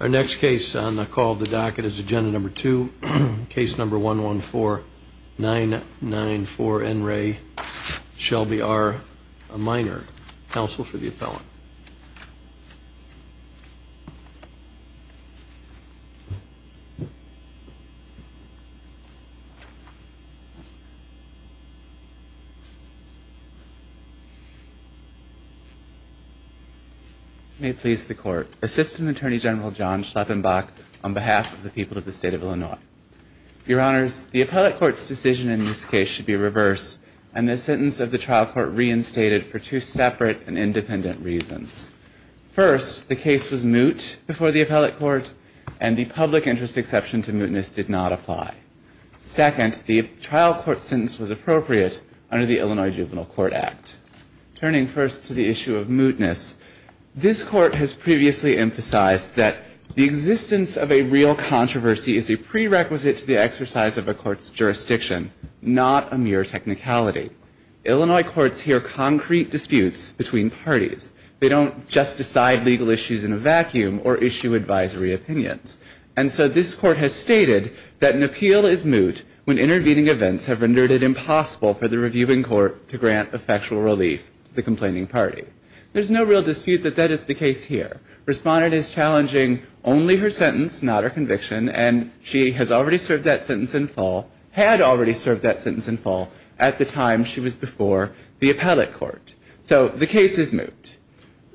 Our next case on the call of the docket is agenda number two case number one one four nine nine four n ray Shelby are a minor counsel for the appellant You May please the court assistant attorney general John Schleppenbach on behalf of the people of the state of Illinois Your honors the appellate courts decision in this case should be reversed and the sentence of the trial court reinstated for two separate and independent reasons First the case was moot before the appellate court and the public interest exception to mootness did not apply Second the trial court sentence was appropriate under the Illinois juvenile court act Turning first to the issue of mootness This court has previously emphasized that the existence of a real controversy is a prerequisite to the exercise of a court's jurisdiction Not a mere technicality Illinois courts here concrete disputes between parties. They don't just decide legal issues in a vacuum or issue advisory opinions And so this court has stated that an appeal is moot when intervening events have rendered it Impossible for the reviewing court to grant a factual relief the complaining party There's no real dispute that that is the case here Respondent is challenging only her sentence not her conviction and she has already served that sentence in fall Had already served that sentence in fall at the time. She was before the appellate court. So the case is moot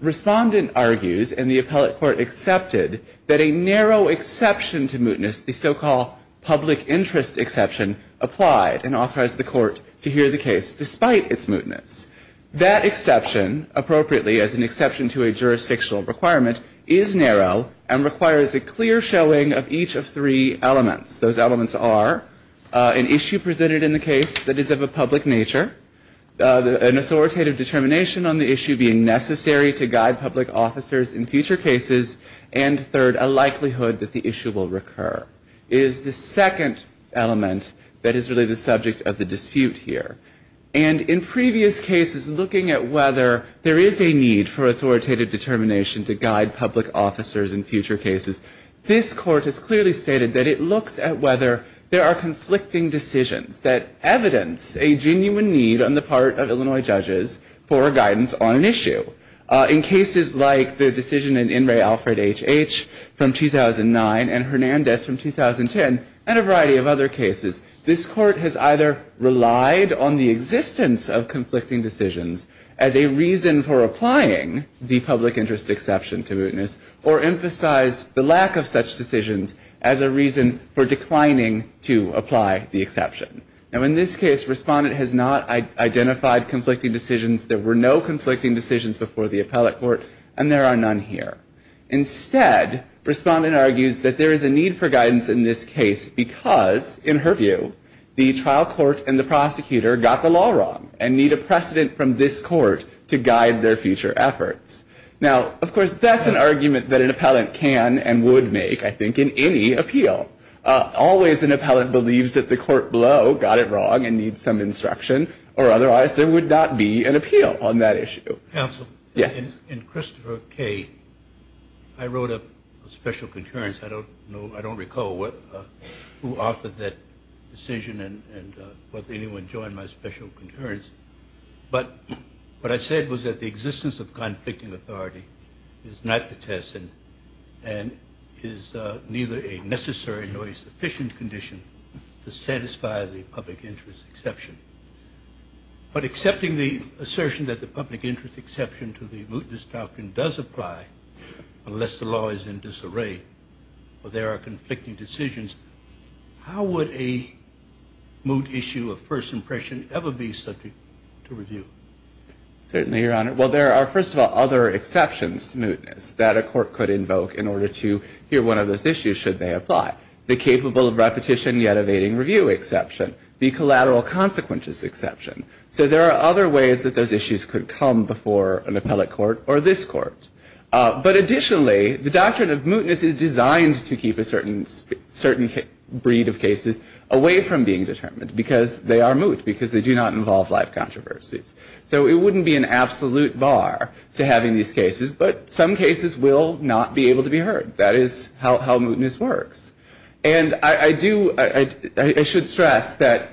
Respondent argues and the appellate court accepted that a narrow exception to mootness the so-called public interest exception Applied and authorized the court to hear the case despite its mootness that exception Appropriately as an exception to a jurisdictional requirement is narrow and requires a clear showing of each of three elements Those elements are an issue presented in the case. That is of a public nature an authoritative determination on the issue being necessary to guide public officers in future cases and Third a likelihood that the issue will recur is the second element That is really the subject of the dispute here and in previous cases looking at whether there is a need for Whether there are conflicting decisions that evidence a genuine need on the part of Illinois judges for guidance on an issue in cases like the decision in in Ray Alfred HH from 2009 and Hernandez from 2010 and a variety of other cases this court has either relied on the existence of conflicting decisions as a reason for applying the public interest exception to mootness or Emphasized the lack of such decisions as a reason for declining to apply the exception now in this case respondent has not Identified conflicting decisions. There were no conflicting decisions before the appellate court and there are none here instead Respondent argues that there is a need for guidance in this case because in her view The trial court and the prosecutor got the law wrong and need a precedent from this court to guide their future efforts Now, of course, that's an argument that an appellant can and would make I think in any appeal Always an appellant believes that the court blow got it wrong and need some instruction or otherwise There would not be an appeal on that issue counsel. Yes in Christopher K. I Wrote a special concurrence. I don't know. I don't recall what who offered that decision and Whether anyone joined my special concurrence but what I said was that the existence of conflicting authority is not the test and and Is neither a necessary nor a sufficient condition to satisfy the public interest exception But accepting the assertion that the public interest exception to the mootness doctrine does apply Unless the law is in disarray Well, there are conflicting decisions how would a Moot issue of first impression ever be subject to review? Certainly your honor Well, there are first of all other exceptions to mootness that a court could invoke in order to hear one of those issues Should they apply the capable of repetition yet evading review exception the collateral consequences exception? So there are other ways that those issues could come before an appellate court or this court But additionally the doctrine of mootness is designed to keep a certain Certain breed of cases away from being determined because they are moot because they do not involve life controversies So it wouldn't be an absolute bar to having these cases but some cases will not be able to be heard that is how mootness works and I do I should stress that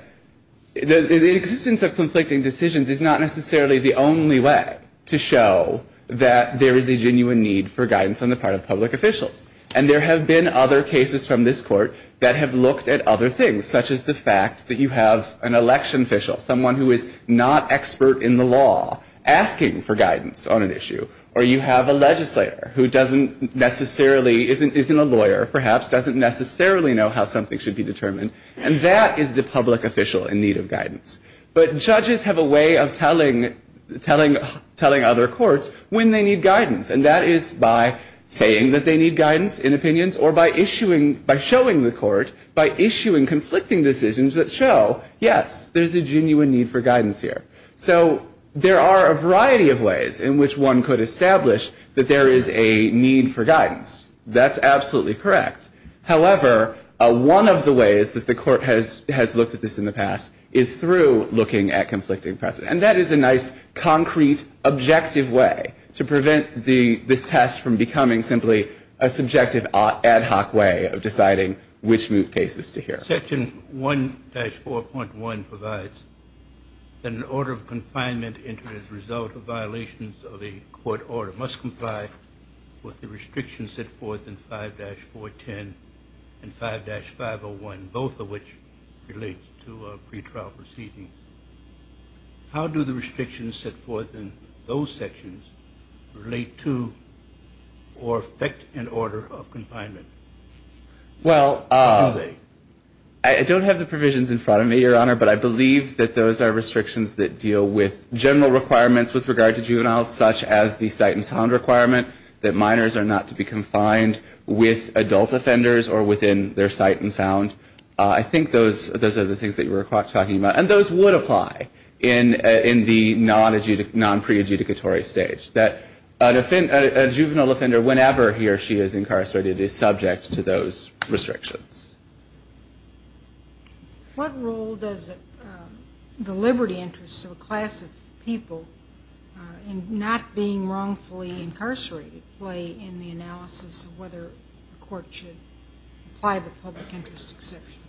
The existence of conflicting decisions is not necessarily the only way to show That there is a genuine need for guidance on the part of public officials and there have been other cases from this court that have Looked at other things such as the fact that you have an election official someone who is not expert in the law Asking for guidance on an issue or you have a legislator who doesn't necessarily Isn't isn't a lawyer perhaps doesn't necessarily know how something should be determined and that is the public official in need of guidance But judges have a way of telling Telling telling other courts when they need guidance and that is by Saying that they need guidance in opinions or by issuing by showing the court by issuing conflicting decisions that show Yes, there's a genuine need for guidance here So there are a variety of ways in which one could establish that there is a need for guidance. That's absolutely correct however One of the ways that the court has has looked at this in the past is through looking at conflicting precedent and that is a nice concrete objective way to prevent the this test from becoming simply a Subjective ad hoc way of deciding which new cases to hear section 1 4.1 provides An order of confinement entered as a result of violations of a court order must comply With the restrictions set forth in 5-4 10 and 5-501 both of which relates to How do the restrictions set forth in those sections relate to or affect an order of confinement well, I Don't have the provisions in front of me your honor But I believe that those are restrictions that deal with General requirements with regard to juvenile such as the sight and sound requirement that minors are not to be confined With adult offenders or within their sight and sound I think those those are the things that you were talking about And those would apply in in the non adjudic non pre adjudicatory stage that an offense a juvenile offender Whenever he or she is incarcerated is subject to those restrictions What role does the Liberty interests of a class of people And not being wrongfully incarcerated play in the analysis of whether court should apply the public interest exception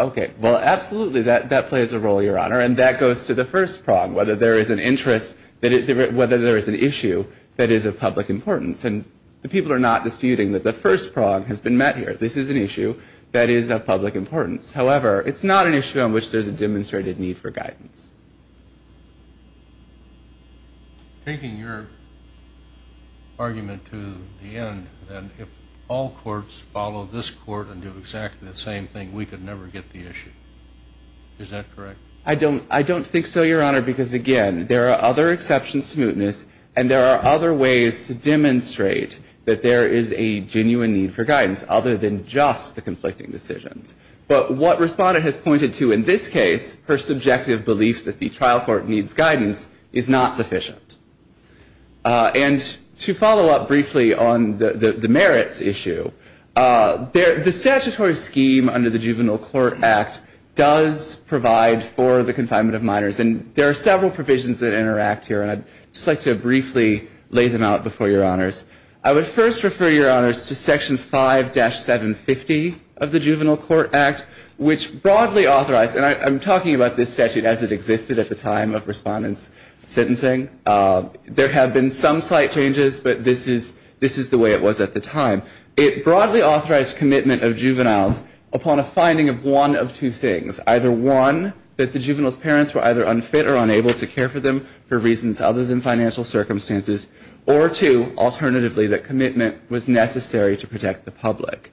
Okay, well absolutely that that plays a role your honor and that goes to the first prong whether there is an interest that it Whether there is an issue that is of public importance and the people are not disputing that the first prong has been met here This is an issue that is of public importance. However, it's not an issue on which there's a demonstrated need for guidance Taking your Argument to the end and if all courts follow this court and do exactly the same thing we could never get the issue Is that correct? I don't I don't think so Your honor because again, there are other exceptions to mootness and there are other ways to demonstrate That there is a genuine need for guidance other than just the conflicting decisions But what respondent has pointed to in this case her subjective belief that the trial court needs guidance is not sufficient And to follow up briefly on the the merits issue There the statutory scheme under the Juvenile Court Act does Provide for the confinement of minors and there are several provisions that interact here And I'd just like to briefly lay them out before your honors I would first refer your honors to section 5-750 of the Juvenile Court Act Which broadly authorized and I'm talking about this statute as it existed at the time of respondents sentencing There have been some slight changes, but this is this is the way it was at the time It broadly authorized commitment of juveniles upon a finding of one of two things either one That the juveniles parents were either unfit or unable to care for them for reasons other than financial circumstances or two Alternatively that commitment was necessary to protect the public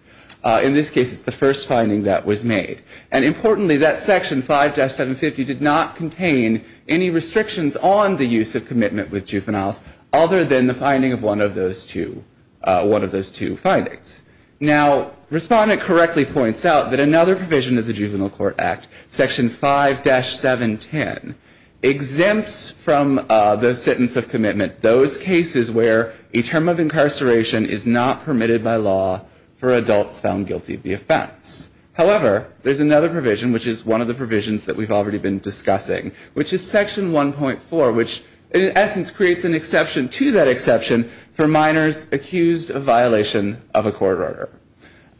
in this case It's the first finding that was made and importantly that section 5-750 did not contain any Restrictions on the use of commitment with juveniles other than the finding of one of those two One of those two findings now Respondent correctly points out that another provision of the Juvenile Court Act section 5-710 Exempts from the sentence of commitment those cases where a term of incarceration is not permitted by law For adults found guilty of the offense However, there's another provision which is one of the provisions that we've already been discussing which is section 1.4 Which in essence creates an exception to that exception for minors accused of violation of a court order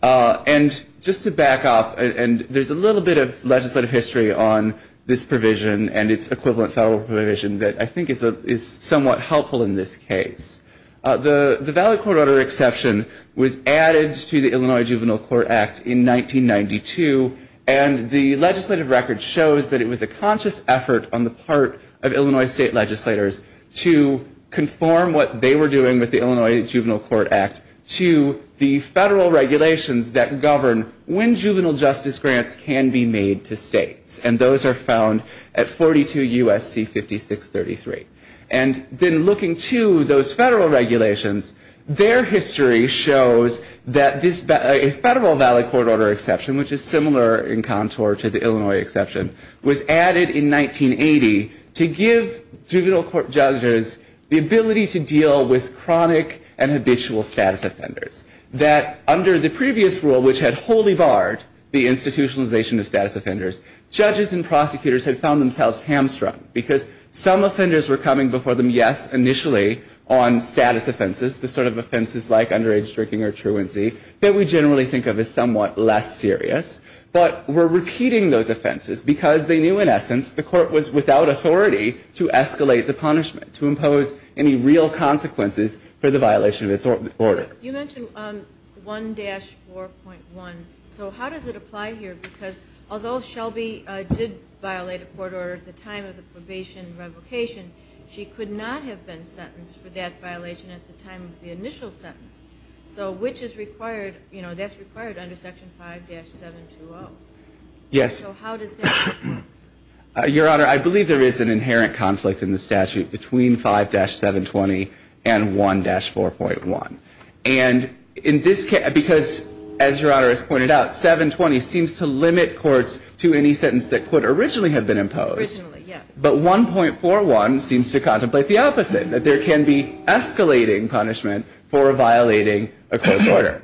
And just to back up and there's a little bit of legislative history on this provision and its equivalent federal provision That I think is a is somewhat helpful in this case The the valid court order exception was added to the Illinois Juvenile Court Act in 1992 and the legislative record shows that it was a conscious effort on the part of Illinois state legislators to Conform what they were doing with the Illinois Juvenile Court Act to the federal regulations that govern when juvenile justice grants can be made to states and those are found at Federal regulations their history shows that this a federal valid court order exception Which is similar in contour to the Illinois exception was added in 1980 to give Juvenile court judges the ability to deal with chronic and habitual status offenders that Under the previous rule which had wholly barred the institutionalization of status offenders Judges and prosecutors had found themselves hamstrung because some offenders were coming before them Yes, initially on status offenses the sort of offenses like underage drinking or truancy that we generally think of as somewhat less serious But we're repeating those offenses because they knew in essence the court was without authority To escalate the punishment to impose any real consequences for the violation of its order you mentioned 1-4.1 So, how does it apply here? Because although Shelby did violate a court order at the time of the probation revocation She could not have been sentenced for that violation at the time of the initial sentence So which is required, you know, that's required under section 5-720 Yes Your honor, I believe there is an inherent conflict in the statute between 5-720 and 1-4.1 and In this case because as your honor has pointed out 720 seems to limit courts to any sentence that could originally have been imposed But 1-4.1 seems to contemplate the opposite that there can be Escalating punishment for violating a court order.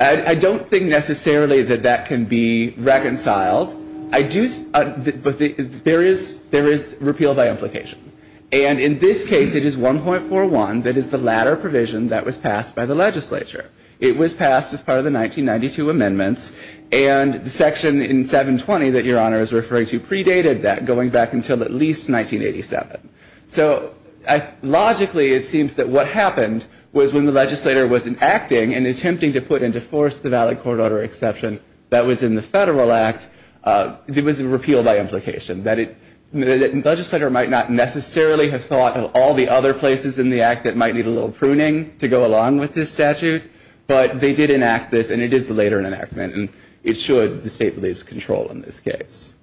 I don't think necessarily that that can be Reconciled I do But there is there is repeal by implication and in this case it is 1-4.1 That is the latter provision that was passed by the legislature. It was passed as part of the 1992 amendments and Section in 720 that your honor is referring to predated that going back until at least 1987. So I Logically, it seems that what happened was when the legislator wasn't acting and attempting to put into force the valid court order exception That was in the federal act It was a repeal by implication that it Legislator might not necessarily have thought of all the other places in the act that might need a little pruning to go along with this statute But they did enact this and it is the later enactment and it should the state believes control in this case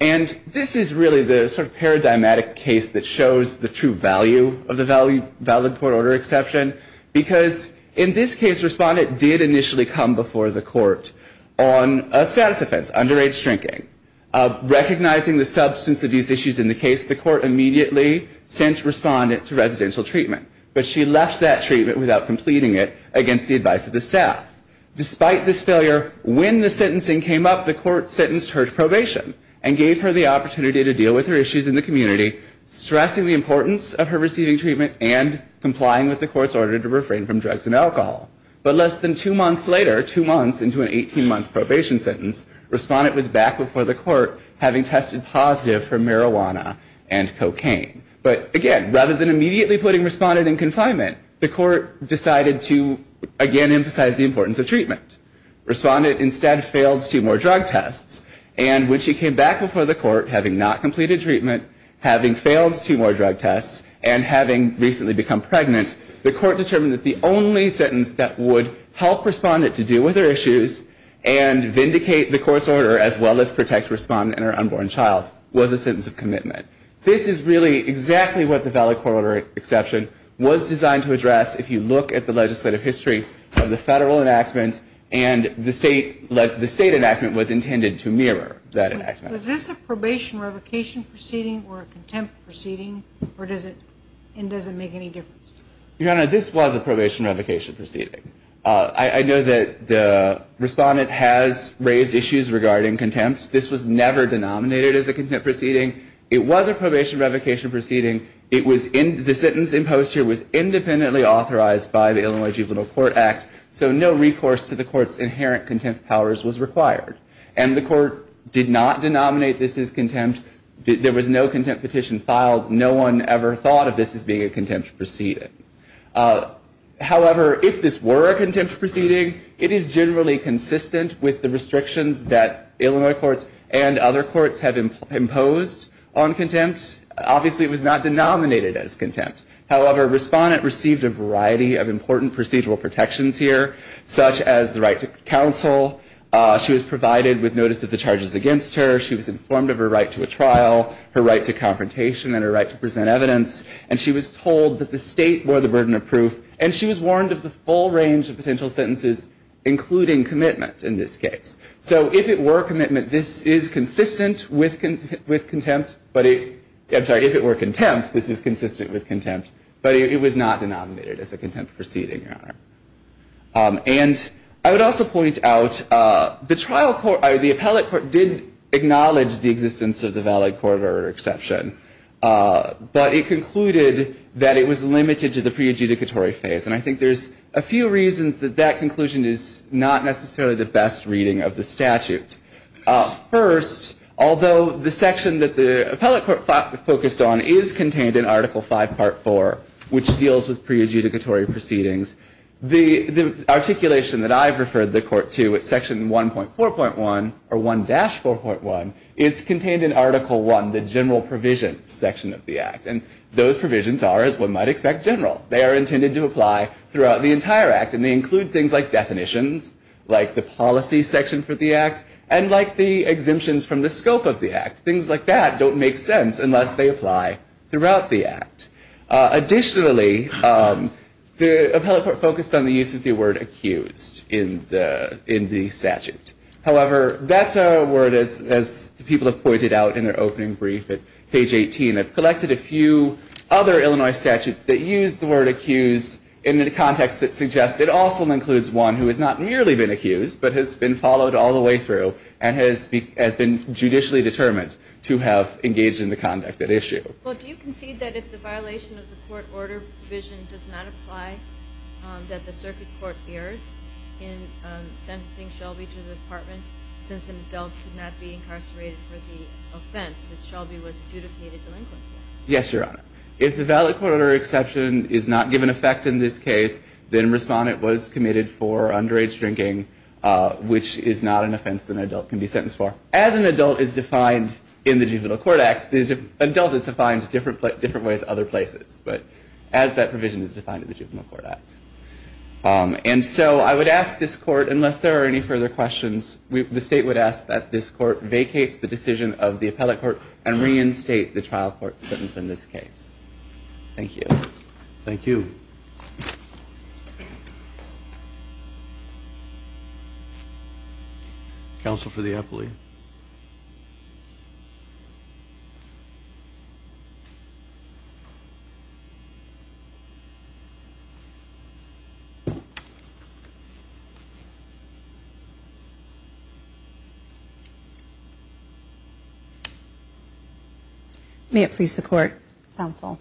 and This is really the sort of paradigmatic case that shows the true value of the value valid court order exception Because in this case respondent did initially come before the court on a status offense underage drinking Recognizing the substance abuse issues in the case the court immediately sent respondent to residential treatment But she left that treatment without completing it against the advice of the staff Despite this failure when the sentencing came up the court sentenced her to probation and gave her the opportunity to deal with her issues in the community stressing the importance of her receiving treatment and Complying with the court's order to refrain from drugs and alcohol But less than two months later two months into an 18 month probation sentence Respondent was back before the court having tested positive for marijuana and cocaine But again rather than immediately putting respondent in confinement the court decided to again emphasize the importance of treatment Respondent instead failed two more drug tests and when she came back before the court having not completed treatment having failed two more drug tests and having recently become pregnant the court determined that the only sentence that would help respondent to deal with her issues and Vindicate the court's order as well as protect respondent or unborn child was a sentence of commitment This is really exactly what the Valley Corridor exception was designed to address if you look at the legislative history of the federal enactment and The state let the state enactment was intended to mirror that act was this a probation revocation Proceeding or a contempt proceeding or does it and doesn't make any difference your honor? This was a probation revocation proceeding I know that the respondent has raised issues regarding contempt This was never denominated as a contempt proceeding. It was a probation revocation proceeding It was in the sentence imposed here was independently authorized by the Illinois juvenile court act So no recourse to the court's inherent contempt powers was required and the court did not denominate This is contempt. There was no contempt petition filed. No one ever thought of this as being a contempt proceeding However, if this were a contempt proceeding it is generally consistent with the restrictions that Illinois courts and other courts have imposed on contempt Obviously, it was not denominated as contempt However respondent received a variety of important procedural protections here such as the right to counsel She was provided with notice of the charges against her She was informed of her right to a trial her right to The burden of proof and she was warned of the full range of potential sentences Including commitment in this case. So if it were commitment, this is consistent with content with contempt But it I'm sorry if it were contempt, this is consistent with contempt, but it was not denominated as a contempt proceeding And I would also point out the trial court I the appellate court did acknowledge the existence of the valid corridor exception But it concluded that it was limited to the pre adjudicatory phase And I think there's a few reasons that that conclusion is not necessarily the best reading of the statute first Although the section that the appellate court focused on is contained in article 5 part 4 which deals with pre adjudicatory proceedings the articulation that I've referred the court to at section 1.4 point 1 or 1 dash 4.1 is Contained in article 1 the general provision section of the act and those provisions are as one might expect general they are intended to apply throughout the entire act and they include things like definitions like the policy section for the act and like the Exemptions from the scope of the act things like that don't make sense unless they apply throughout the act additionally The appellate court focused on the use of the word accused in the in the statute However, that's a word as people have pointed out in their opening brief at page 18 I've collected a few other Illinois statutes that use the word accused in the context that suggests it also includes one who has not merely Been accused but has been followed all the way through and has been Judicially determined to have engaged in the conduct at issue Since an adult could not be incarcerated for the offense that Shelby was adjudicated delinquent Yes, your honor. If the valid court order exception is not given effect in this case, then respondent was committed for underage drinking Which is not an offense than adult can be sentenced for as an adult is defined in the juvenile court act The adult is defined different but different ways other places, but as that provision is defined in the juvenile court act And so I would ask this court unless there are any further questions We the state would ask that this court vacate the decision of the appellate court and reinstate the trial court sentence in this case Thank you. Thank you Counsel for the appellate You May it please the court counsel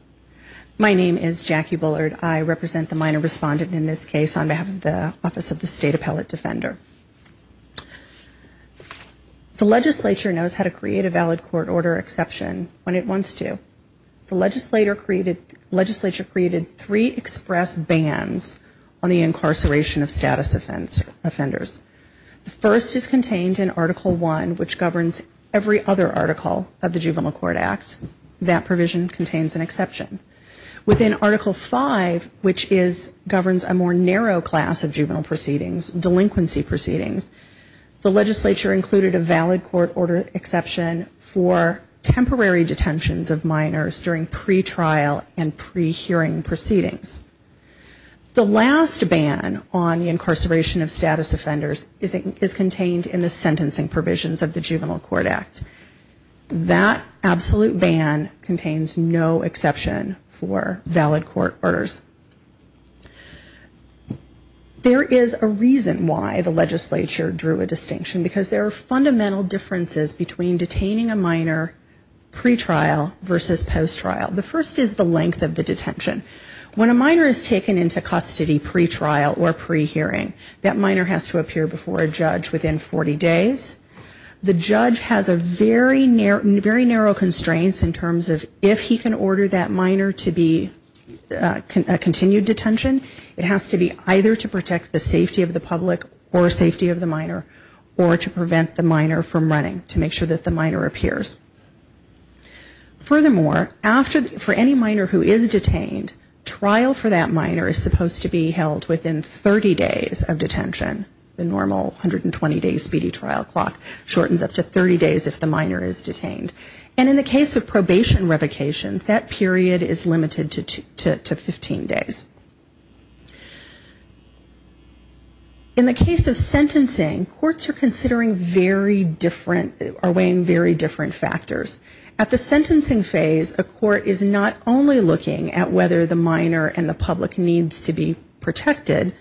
My name is Jackie Bullard. I represent the minor respondent in this case on behalf of the office of the state appellate defender The legislature knows how to create a valid court order exception when it wants to The legislator created legislature created three express bans on the incarceration of status offense offenders The first is contained in article 1 which governs every other article of the juvenile court act that provision contains an exception Within article 5 which is governs a more narrow class of juvenile proceedings delinquency proceedings the legislature included a valid court order exception for Temporary detentions of minors during pretrial and pre-hearing proceedings The last ban on the incarceration of status offenders is it is contained in the sentencing provisions of the juvenile court act That absolute ban contains no exception for valid court orders There is a reason why the legislature drew a distinction because there are fundamental differences between detaining a minor pretrial versus post trial The first is the length of the detention When a minor is taken into custody pretrial or pre-hearing that minor has to appear before a judge within 40 days the judge has a very narrow very narrow constraints in terms of if he can order that minor to be Continued detention it has to be either to protect the safety of the public or a safety of the minor or To prevent the minor from running to make sure that the minor appears Furthermore after for any minor who is detained Trial for that minor is supposed to be held within 30 days of detention the normal 120 days speedy trial clock Shortens up to 30 days if the minor is detained and in the case of probation revocations that period is limited to 15 days In The case of sentencing courts are considering very different are weighing very different factors at the sentencing phase A court is not only looking at whether the minor and the public needs to be protected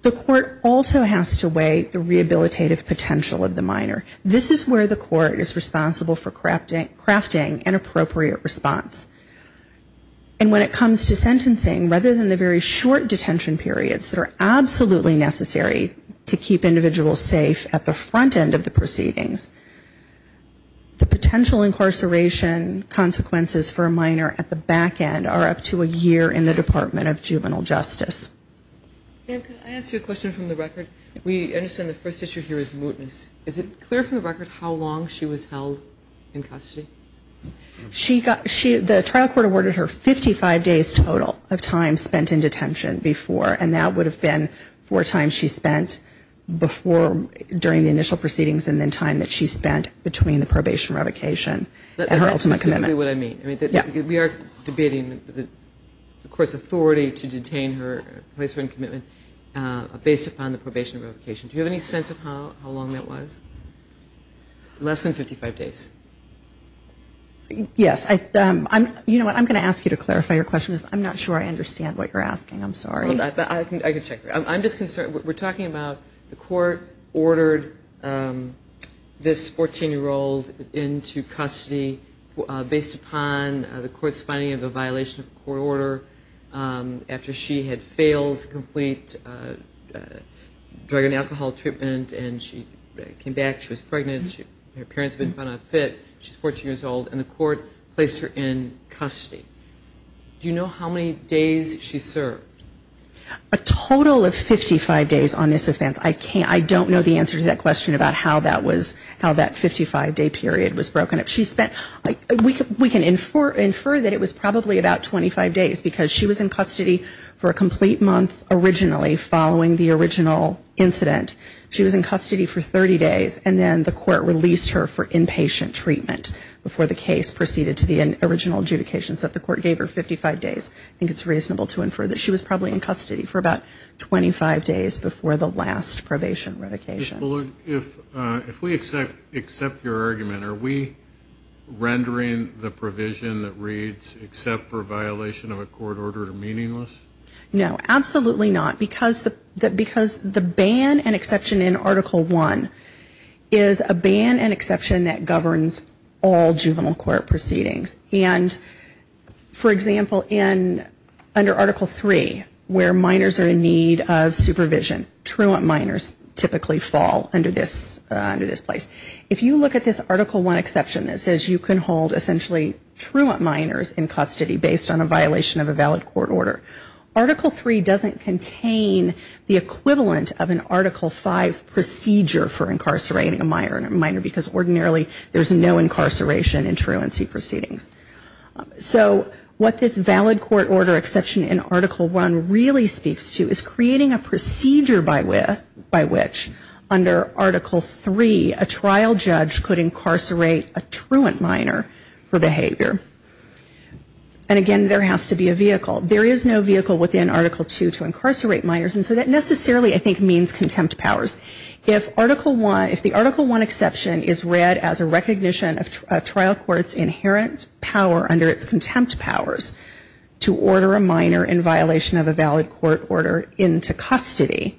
The court also has to weigh the rehabilitative potential of the minor this is where the court is responsible for crafting crafting an appropriate response and When it comes to sentencing rather than the very short detention periods that are absolutely necessary To keep individuals safe at the front end of the proceedings the potential incarceration Consequences for a minor at the back end are up to a year in the Department of Juvenile Justice We understand the first issue here is mootness, is it clear from the record how long she was held in custody? She got she the trial court awarded her 55 days total of time spent in detention before and that would have been four times She spent before During the initial proceedings and then time that she spent between the probation revocation But ultimately what I mean, I mean that we are debating the of course authority to detain her placement commitment Based upon the probation revocation. Do you have any sense of how how long that was? less than 55 days Yes, I I'm you know what I'm gonna ask you to clarify your question is I'm not sure I understand what you're asking I'm sorry, but I can I could check I'm just concerned. We're talking about the court ordered This 14 year old into custody based upon the courts finding of a violation of court order After she had failed to complete Drug and alcohol treatment and she came back. She was pregnant. Her parents have been found unfit She's 14 years old and the court placed her in custody do you know how many days she served a Total of 55 days on this offense I can't I don't know the answer to that question about how that was how that 55 day period was broken up She spent like we could we can infer infer that it was probably about 25 days because she was in custody For a complete month originally following the original incident She was in custody for 30 days and then the court released her for inpatient treatment Before the case proceeded to the original adjudication stuff the court gave her 55 days I think it's reasonable to infer that she was probably in custody for about 25 days before the last probation revocation if we accept accept your argument, are we Rendering the provision that reads except for a violation of a court order to meaningless no, absolutely not because that because the ban and exception in article 1 is a ban and exception that governs all juvenile court proceedings and for example in Under article 3 where minors are in need of supervision Truant minors typically fall under this under this place If you look at this article 1 exception that says you can hold essentially Truant minors in custody based on a violation of a valid court order Article 3 doesn't contain the equivalent of an article 5 Procedure for incarcerating a minor and a minor because ordinarily there's no incarceration in truancy proceedings So what this valid court order exception in article 1 really speaks to is creating a procedure by with by which under article 3 a trial judge could incarcerate a truant minor for behavior and Again, there has to be a vehicle There is no vehicle within article 2 to incarcerate minors And so that necessarily I think means contempt powers if article 1 if the article 1 exception is read as a recognition of trial courts inherent power under its contempt powers to order a minor in violation of a valid court order into custody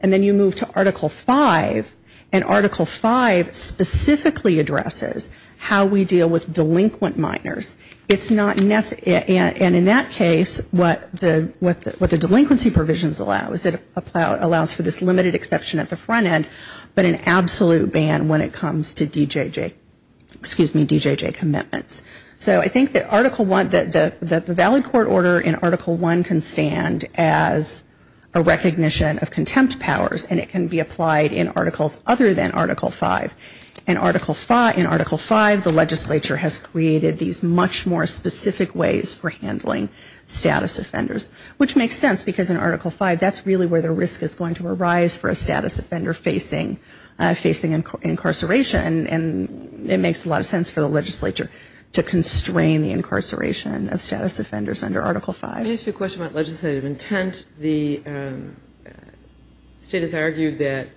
and then you move to article 5 and article 5 Specifically addresses how we deal with delinquent minors It's not necessary and in that case what the what the delinquency provisions allow is it? Allows for this limited exception at the front end but an absolute ban when it comes to DJJ Excuse me DJJ commitments so I think that article 1 that the valid court order in article 1 can stand as a recognition of contempt powers and it can be applied in articles other than article 5 and Article 5 in article 5 the legislature has created these much more specific ways for handling Status offenders which makes sense because in article 5 that's really where the risk is going to arise for a status offender facing facing incarceration and It makes a lot of sense for the legislature to constrain the incarceration of status offenders under article 5 it's a question about legislative intent the State has argued that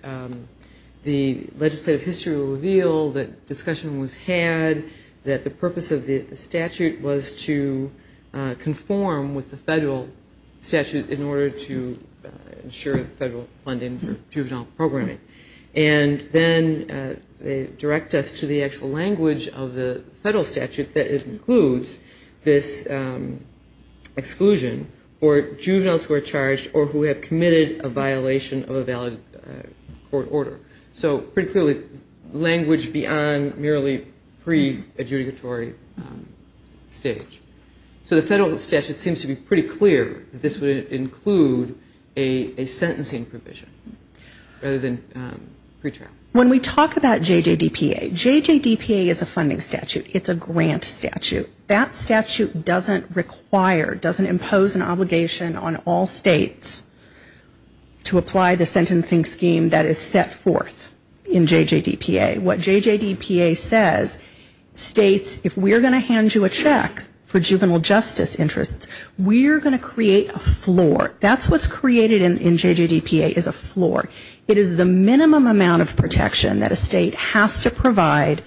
the legislative history reveal that discussion was had that the purpose of the statute was to conform with the federal statute in order to Ensure federal funding for juvenile programming and then They direct us to the actual language of the federal statute that includes this Exclusion for juveniles were charged or who have committed a violation of a valid Court order so pretty clearly language beyond merely pre adjudicatory Stage so the federal statute seems to be pretty clear that this would include a sentencing provision rather than When we talk about JJ DPA JJ DPA is a funding statute It's a grant statute that statute doesn't require doesn't impose an obligation on all states To apply the sentencing scheme that is set forth in JJ DPA what JJ DPA says? States if we're going to hand you a check for juvenile justice interests, we're going to create a floor That's what's created in JJ DPA is a floor It is the minimum amount of protection that a state has to provide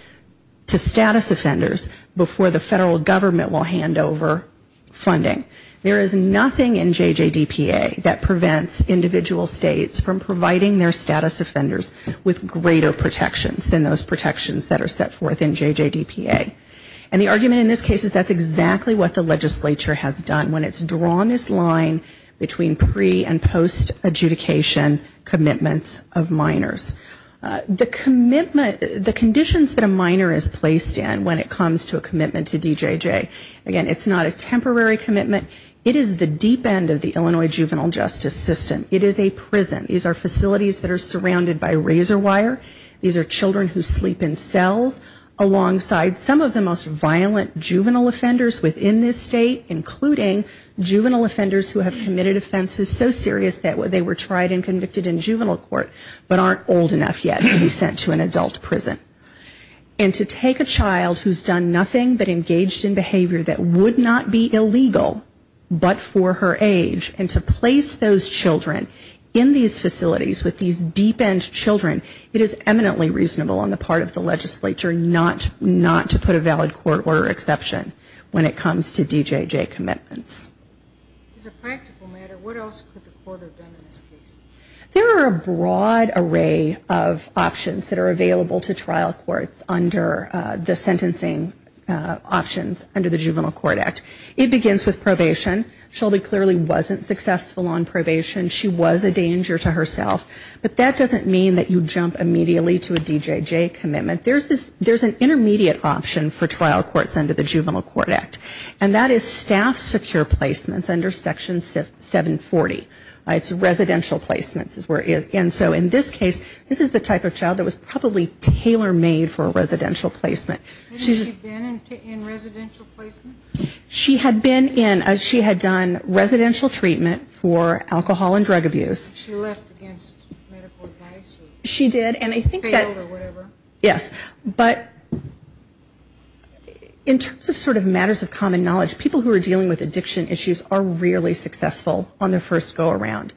To status offenders before the federal government will hand over Funding there is nothing in JJ DPA that prevents individual states from providing their status offenders With greater protections than those protections that are set forth in JJ DPA and the argument in this case is that's exactly what the Legislature has done when it's drawn this line between pre and post adjudication commitments of minors The commitment the conditions that a minor is placed in when it comes to a commitment to DJJ again It's not a temporary commitment. It is the deep end of the Illinois juvenile justice system It is a prison. These are facilities that are surrounded by razor wire. These are children who sleep in cells alongside some of the most violent juvenile offenders within this state including Juvenile offenders who have committed offenses so serious that what they were tried and convicted in juvenile court but aren't old enough yet to be sent to an adult prison and To take a child who's done nothing but engaged in behavior that would not be illegal But for her age and to place those children in these facilities with these deep-end children It is eminently reasonable on the part of the legislature not not to put a valid court order exception when it comes to DJJ commitments There are a broad array of options that are available to trial courts under the sentencing Options under the juvenile court act it begins with probation Shelby clearly wasn't successful on probation She was a danger to herself, but that doesn't mean that you jump immediately to a DJJ commitment There's this there's an intermediate option for trial courts under the juvenile court act and that is staff secure placements under section 740 it's residential placements is where is and so in this case This is the type of child that was probably tailor-made for a residential placement She's She had been in as she had done residential treatment for alcohol and drug abuse She did and I think yes, but In terms of sort of matters of common knowledge people who are dealing with addiction issues are rarely successful on their first go-around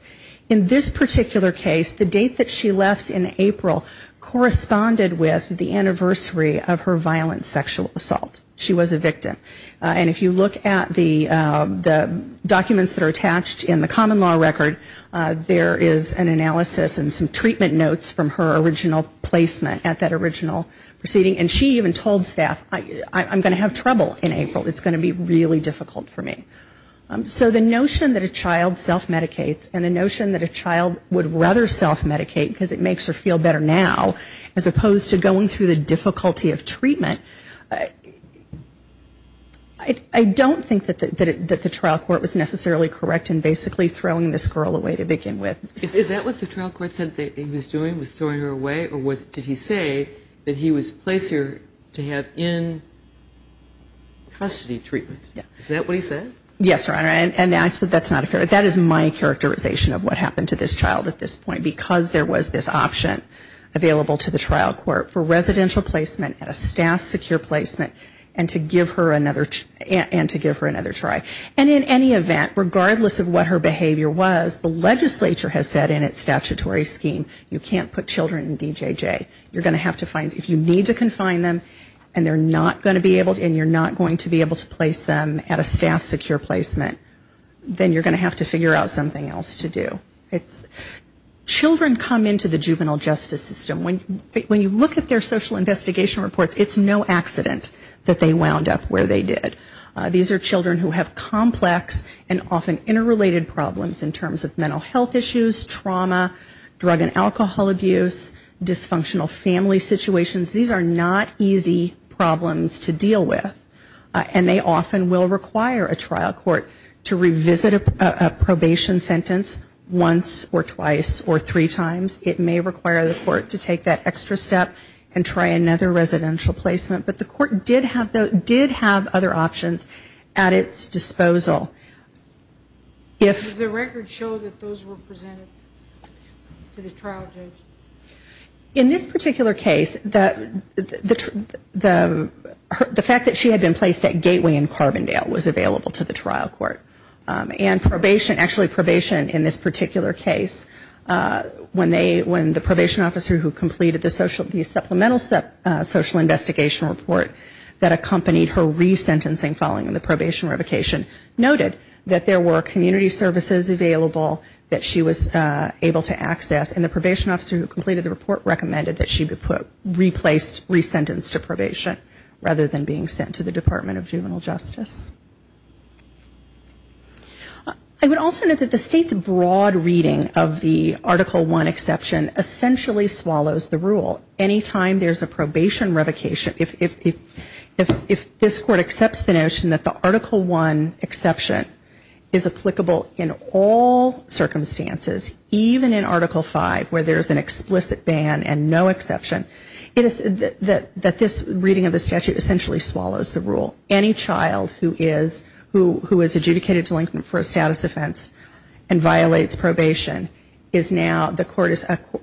in This particular case the date that she left in April Corresponded with the anniversary of her violent sexual assault she was a victim and if you look at the Documents that are attached in the common law record There is an analysis and some treatment notes from her original placement at that original proceeding and she even told staff I I'm gonna have trouble in April. It's gonna be really difficult for me So the notion that a child self medicates and the notion that a child would rather self medicate because it makes her feel better now as opposed to going through the difficulty of treatment I Don't think that the trial court was necessarily correct and basically throwing this girl away to begin with Is that what the trial court said that he was doing was throwing her away? Or was did he say that he was placed here to have in? Custody treatment. Yeah, is that what he said? Yes, your honor and that's but that's not a fair That is my characterization of what happened to this child at this point because there was this option Available to the trial court for residential placement at a staff secure placement and to give her another And to give her another try and in any event regardless of what her behavior was the legislature has said in its statutory scheme You can't put children in DJJ You're gonna have to find if you need to confine them and they're not going to be able to and you're not going to be Able to place them at a staff secure placement Then you're gonna have to figure out something else to do. It's Children come into the juvenile justice system when when you look at their social investigation reports It's no accident that they wound up where they did These are children who have complex and often interrelated problems in terms of mental health issues trauma drug and alcohol abuse dysfunctional family situations These are not easy problems to deal with and they often will require a trial court to revisit a Three times it may require the court to take that extra step and try another residential placement But the court did have though did have other options at its disposal If the record show that those were presented In this particular case that the The fact that she had been placed at Gateway in Carbondale was available to the trial court And probation actually probation in this particular case when they when the probation officer who completed the social these supplemental step social investigation report that accompanied her resentencing following in the probation revocation Noted that there were community services available that she was able to access and the probation officer who completed the report Recommended that she be put replaced resentence to probation rather than being sent to the Department of Juvenile Justice. I Article 1 exception essentially swallows the rule anytime. There's a probation revocation if If this court accepts the notion that the article 1 exception is applicable in all Circumstances even in article 5 where there's an explicit ban and no exception It is that that this reading of the statute essentially swallows the rule any child who is who who is adjudicated delinquent for a status offense and The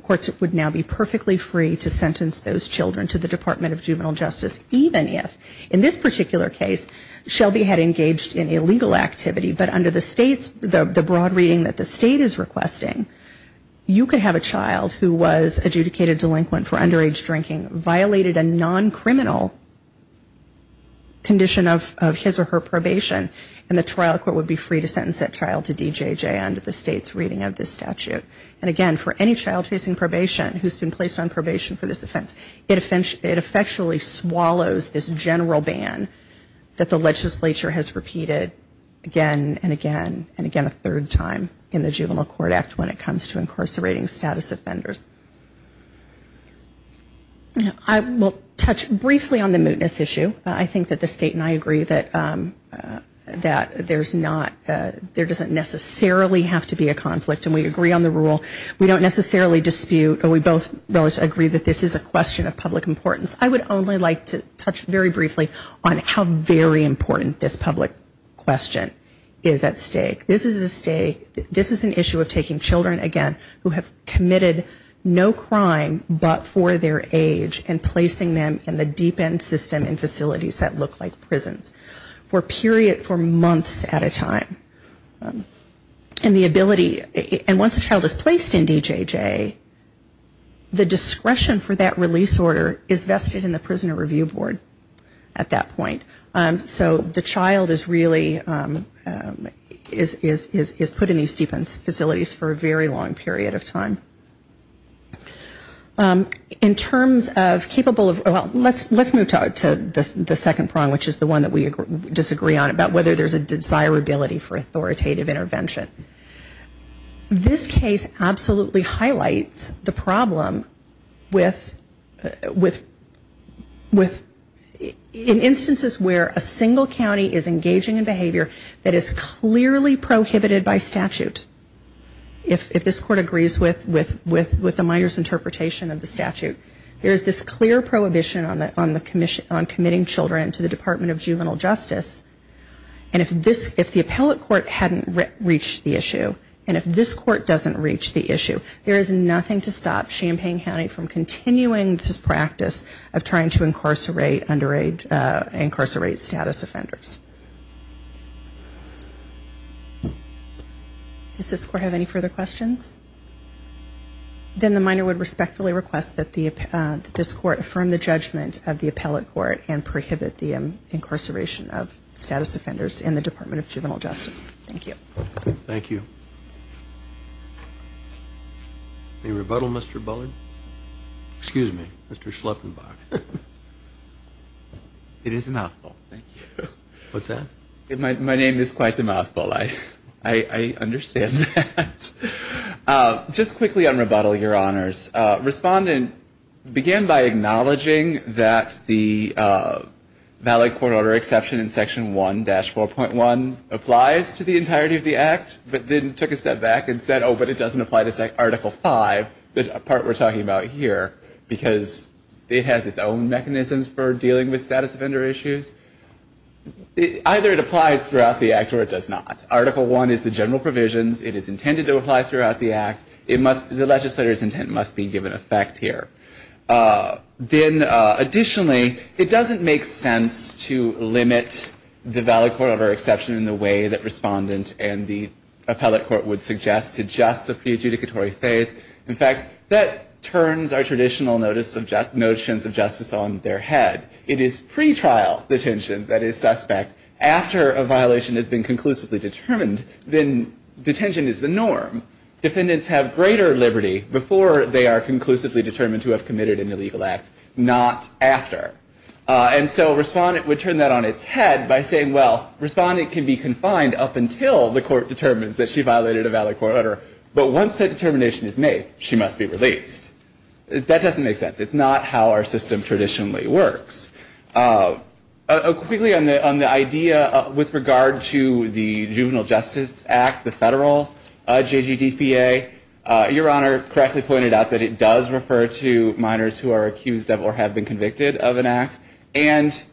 court would now be perfectly free to sentence those children to the Department of Juvenile Justice Even if in this particular case Shelby had engaged in illegal activity But under the state's the broad reading that the state is requesting You could have a child who was adjudicated delinquent for underage drinking violated a non-criminal Condition of his or her probation and the trial court would be free to sentence that child to DJJ under the state's reading of this Statute and again for any child facing probation who's been placed on probation for this offense It offense it effectually swallows this general ban That the legislature has repeated Again, and again and again a third time in the juvenile court act when it comes to incarcerating status offenders Yeah, I will touch briefly on the mootness issue I think that the state and I agree that That there's not there doesn't necessarily have to be a conflict and we agree on the rule We don't necessarily dispute or we both both agree that this is a question of public importance I would only like to touch very briefly on how very important this public question is at stake This is a state. This is an issue of taking children again who have committed no crime But for their age and placing them in the deep end system and facilities that look like prisons for period for months at a time And the ability and once a child is placed in DJJ The discretion for that release order is vested in the Prisoner Review Board at that point. So the child is really Is is is put in these defense facilities for a very long period of time? In terms of capable of well, let's let's move to the second prong Which is the one that we disagree on about whether there's a desirability for authoritative intervention This case absolutely highlights the problem with with with In instances where a single county is engaging in behavior that is clearly prohibited by statute If this court agrees with with with with the minor's interpretation of the statute There is this clear prohibition on that on the Commission on committing children to the Department of Juvenile Justice And if this if the appellate court hadn't reached the issue and if this court doesn't reach the issue There is nothing to stop Champaign County from continuing this practice of trying to incarcerate underage incarcerate status offenders Does this court have any further questions Then the minor would respectfully request that the This court from the judgment of the appellate court and prohibit the incarceration of status offenders in the Department of Juvenile Justice Thank you. Thank you The rebuttal mr. Bullard, excuse me, mr. Schleppenbach It is not What's that? My name is quite the mouthful. I I understand Just quickly on rebuttal your honors respondent began by acknowledging that the Valid court order exception in section 1 dash 4.1 applies to the entirety of the act But then took a step back and said oh, but it doesn't apply to say article 5 the part We're talking about here because it has its own mechanisms for dealing with status offender issues It either it applies throughout the act or it does not article 1 is the general provisions It is intended to apply throughout the act. It must the legislators intent must be given effect here then additionally, it doesn't make sense to limit the valid court order exception in the way that respondent and the Appellate court would suggest to just the pre adjudicatory phase In fact that turns our traditional notice subject notions of justice on their head It is pre trial detention that is suspect after a violation has been conclusively determined then Detention is the norm Defendants have greater liberty before they are conclusively determined to have committed an illegal act not after And so respondent would turn that on its head by saying well Respondent can be confined up until the court determines that she violated a valid court order But once that determination is made she must be released That doesn't make sense. It's not how our system traditionally works a Quickly on the on the idea with regard to the Juvenile Justice Act the federal JGDPA your honor correctly pointed out that it does refer to minors who are accused of or have been convicted of an act and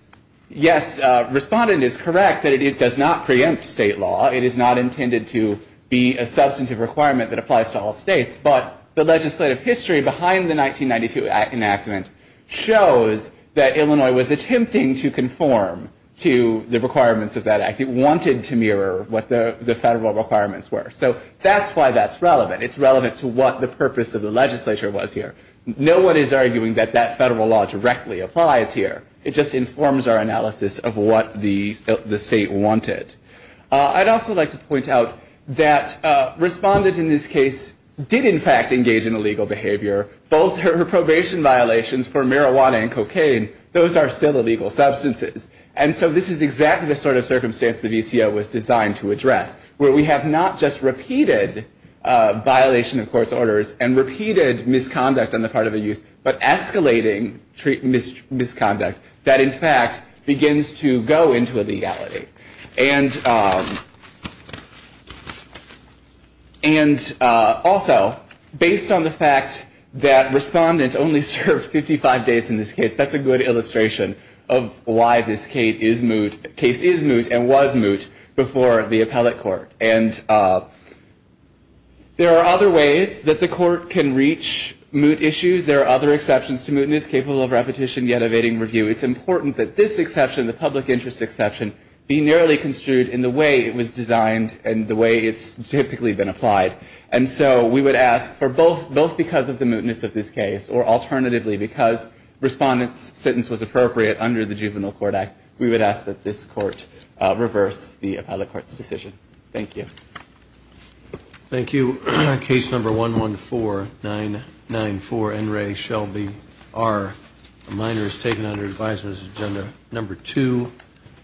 Yes Respondent is correct that it does not preempt state law It is not intended to be a substantive requirement that applies to all states The legislative history behind the 1992 enactment shows that Illinois was attempting to conform To the requirements of that act it wanted to mirror what the the federal requirements were. So that's why that's relevant It's relevant to what the purpose of the legislature was here No one is arguing that that federal law directly applies here. It just informs our analysis of what the the state wanted I'd also like to point out that Respondent in this case did in fact engage in illegal behavior both her probation violations for marijuana and cocaine Those are still illegal substances And so this is exactly the sort of circumstance the VCO was designed to address where we have not just repeated violation of court's orders and repeated misconduct on the part of a youth but escalating treat misconduct that in fact begins to go into a legality and And Also based on the fact that respondents only served 55 days in this case that's a good illustration of why this Kate is moot case is moot and was moot before the appellate court and There are other ways that the court can reach moot issues There are other exceptions to mootness capable of repetition yet evading review It's important that this exception the public interest exception be narrowly construed in the way it was designed and the way it's typically been applied and so we would ask for both both because of the mootness of this case or alternatively because Respondents sentence was appropriate under the Juvenile Court Act. We would ask that this court Reverse the appellate court's decision. Thank you Thank you. Case number one one four nine nine four and ray Shelby are Minors taken under advisers agenda number two.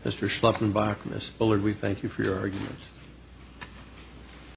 Mr. Schleppenbach miss Bullard. We thank you for your arguments Thank you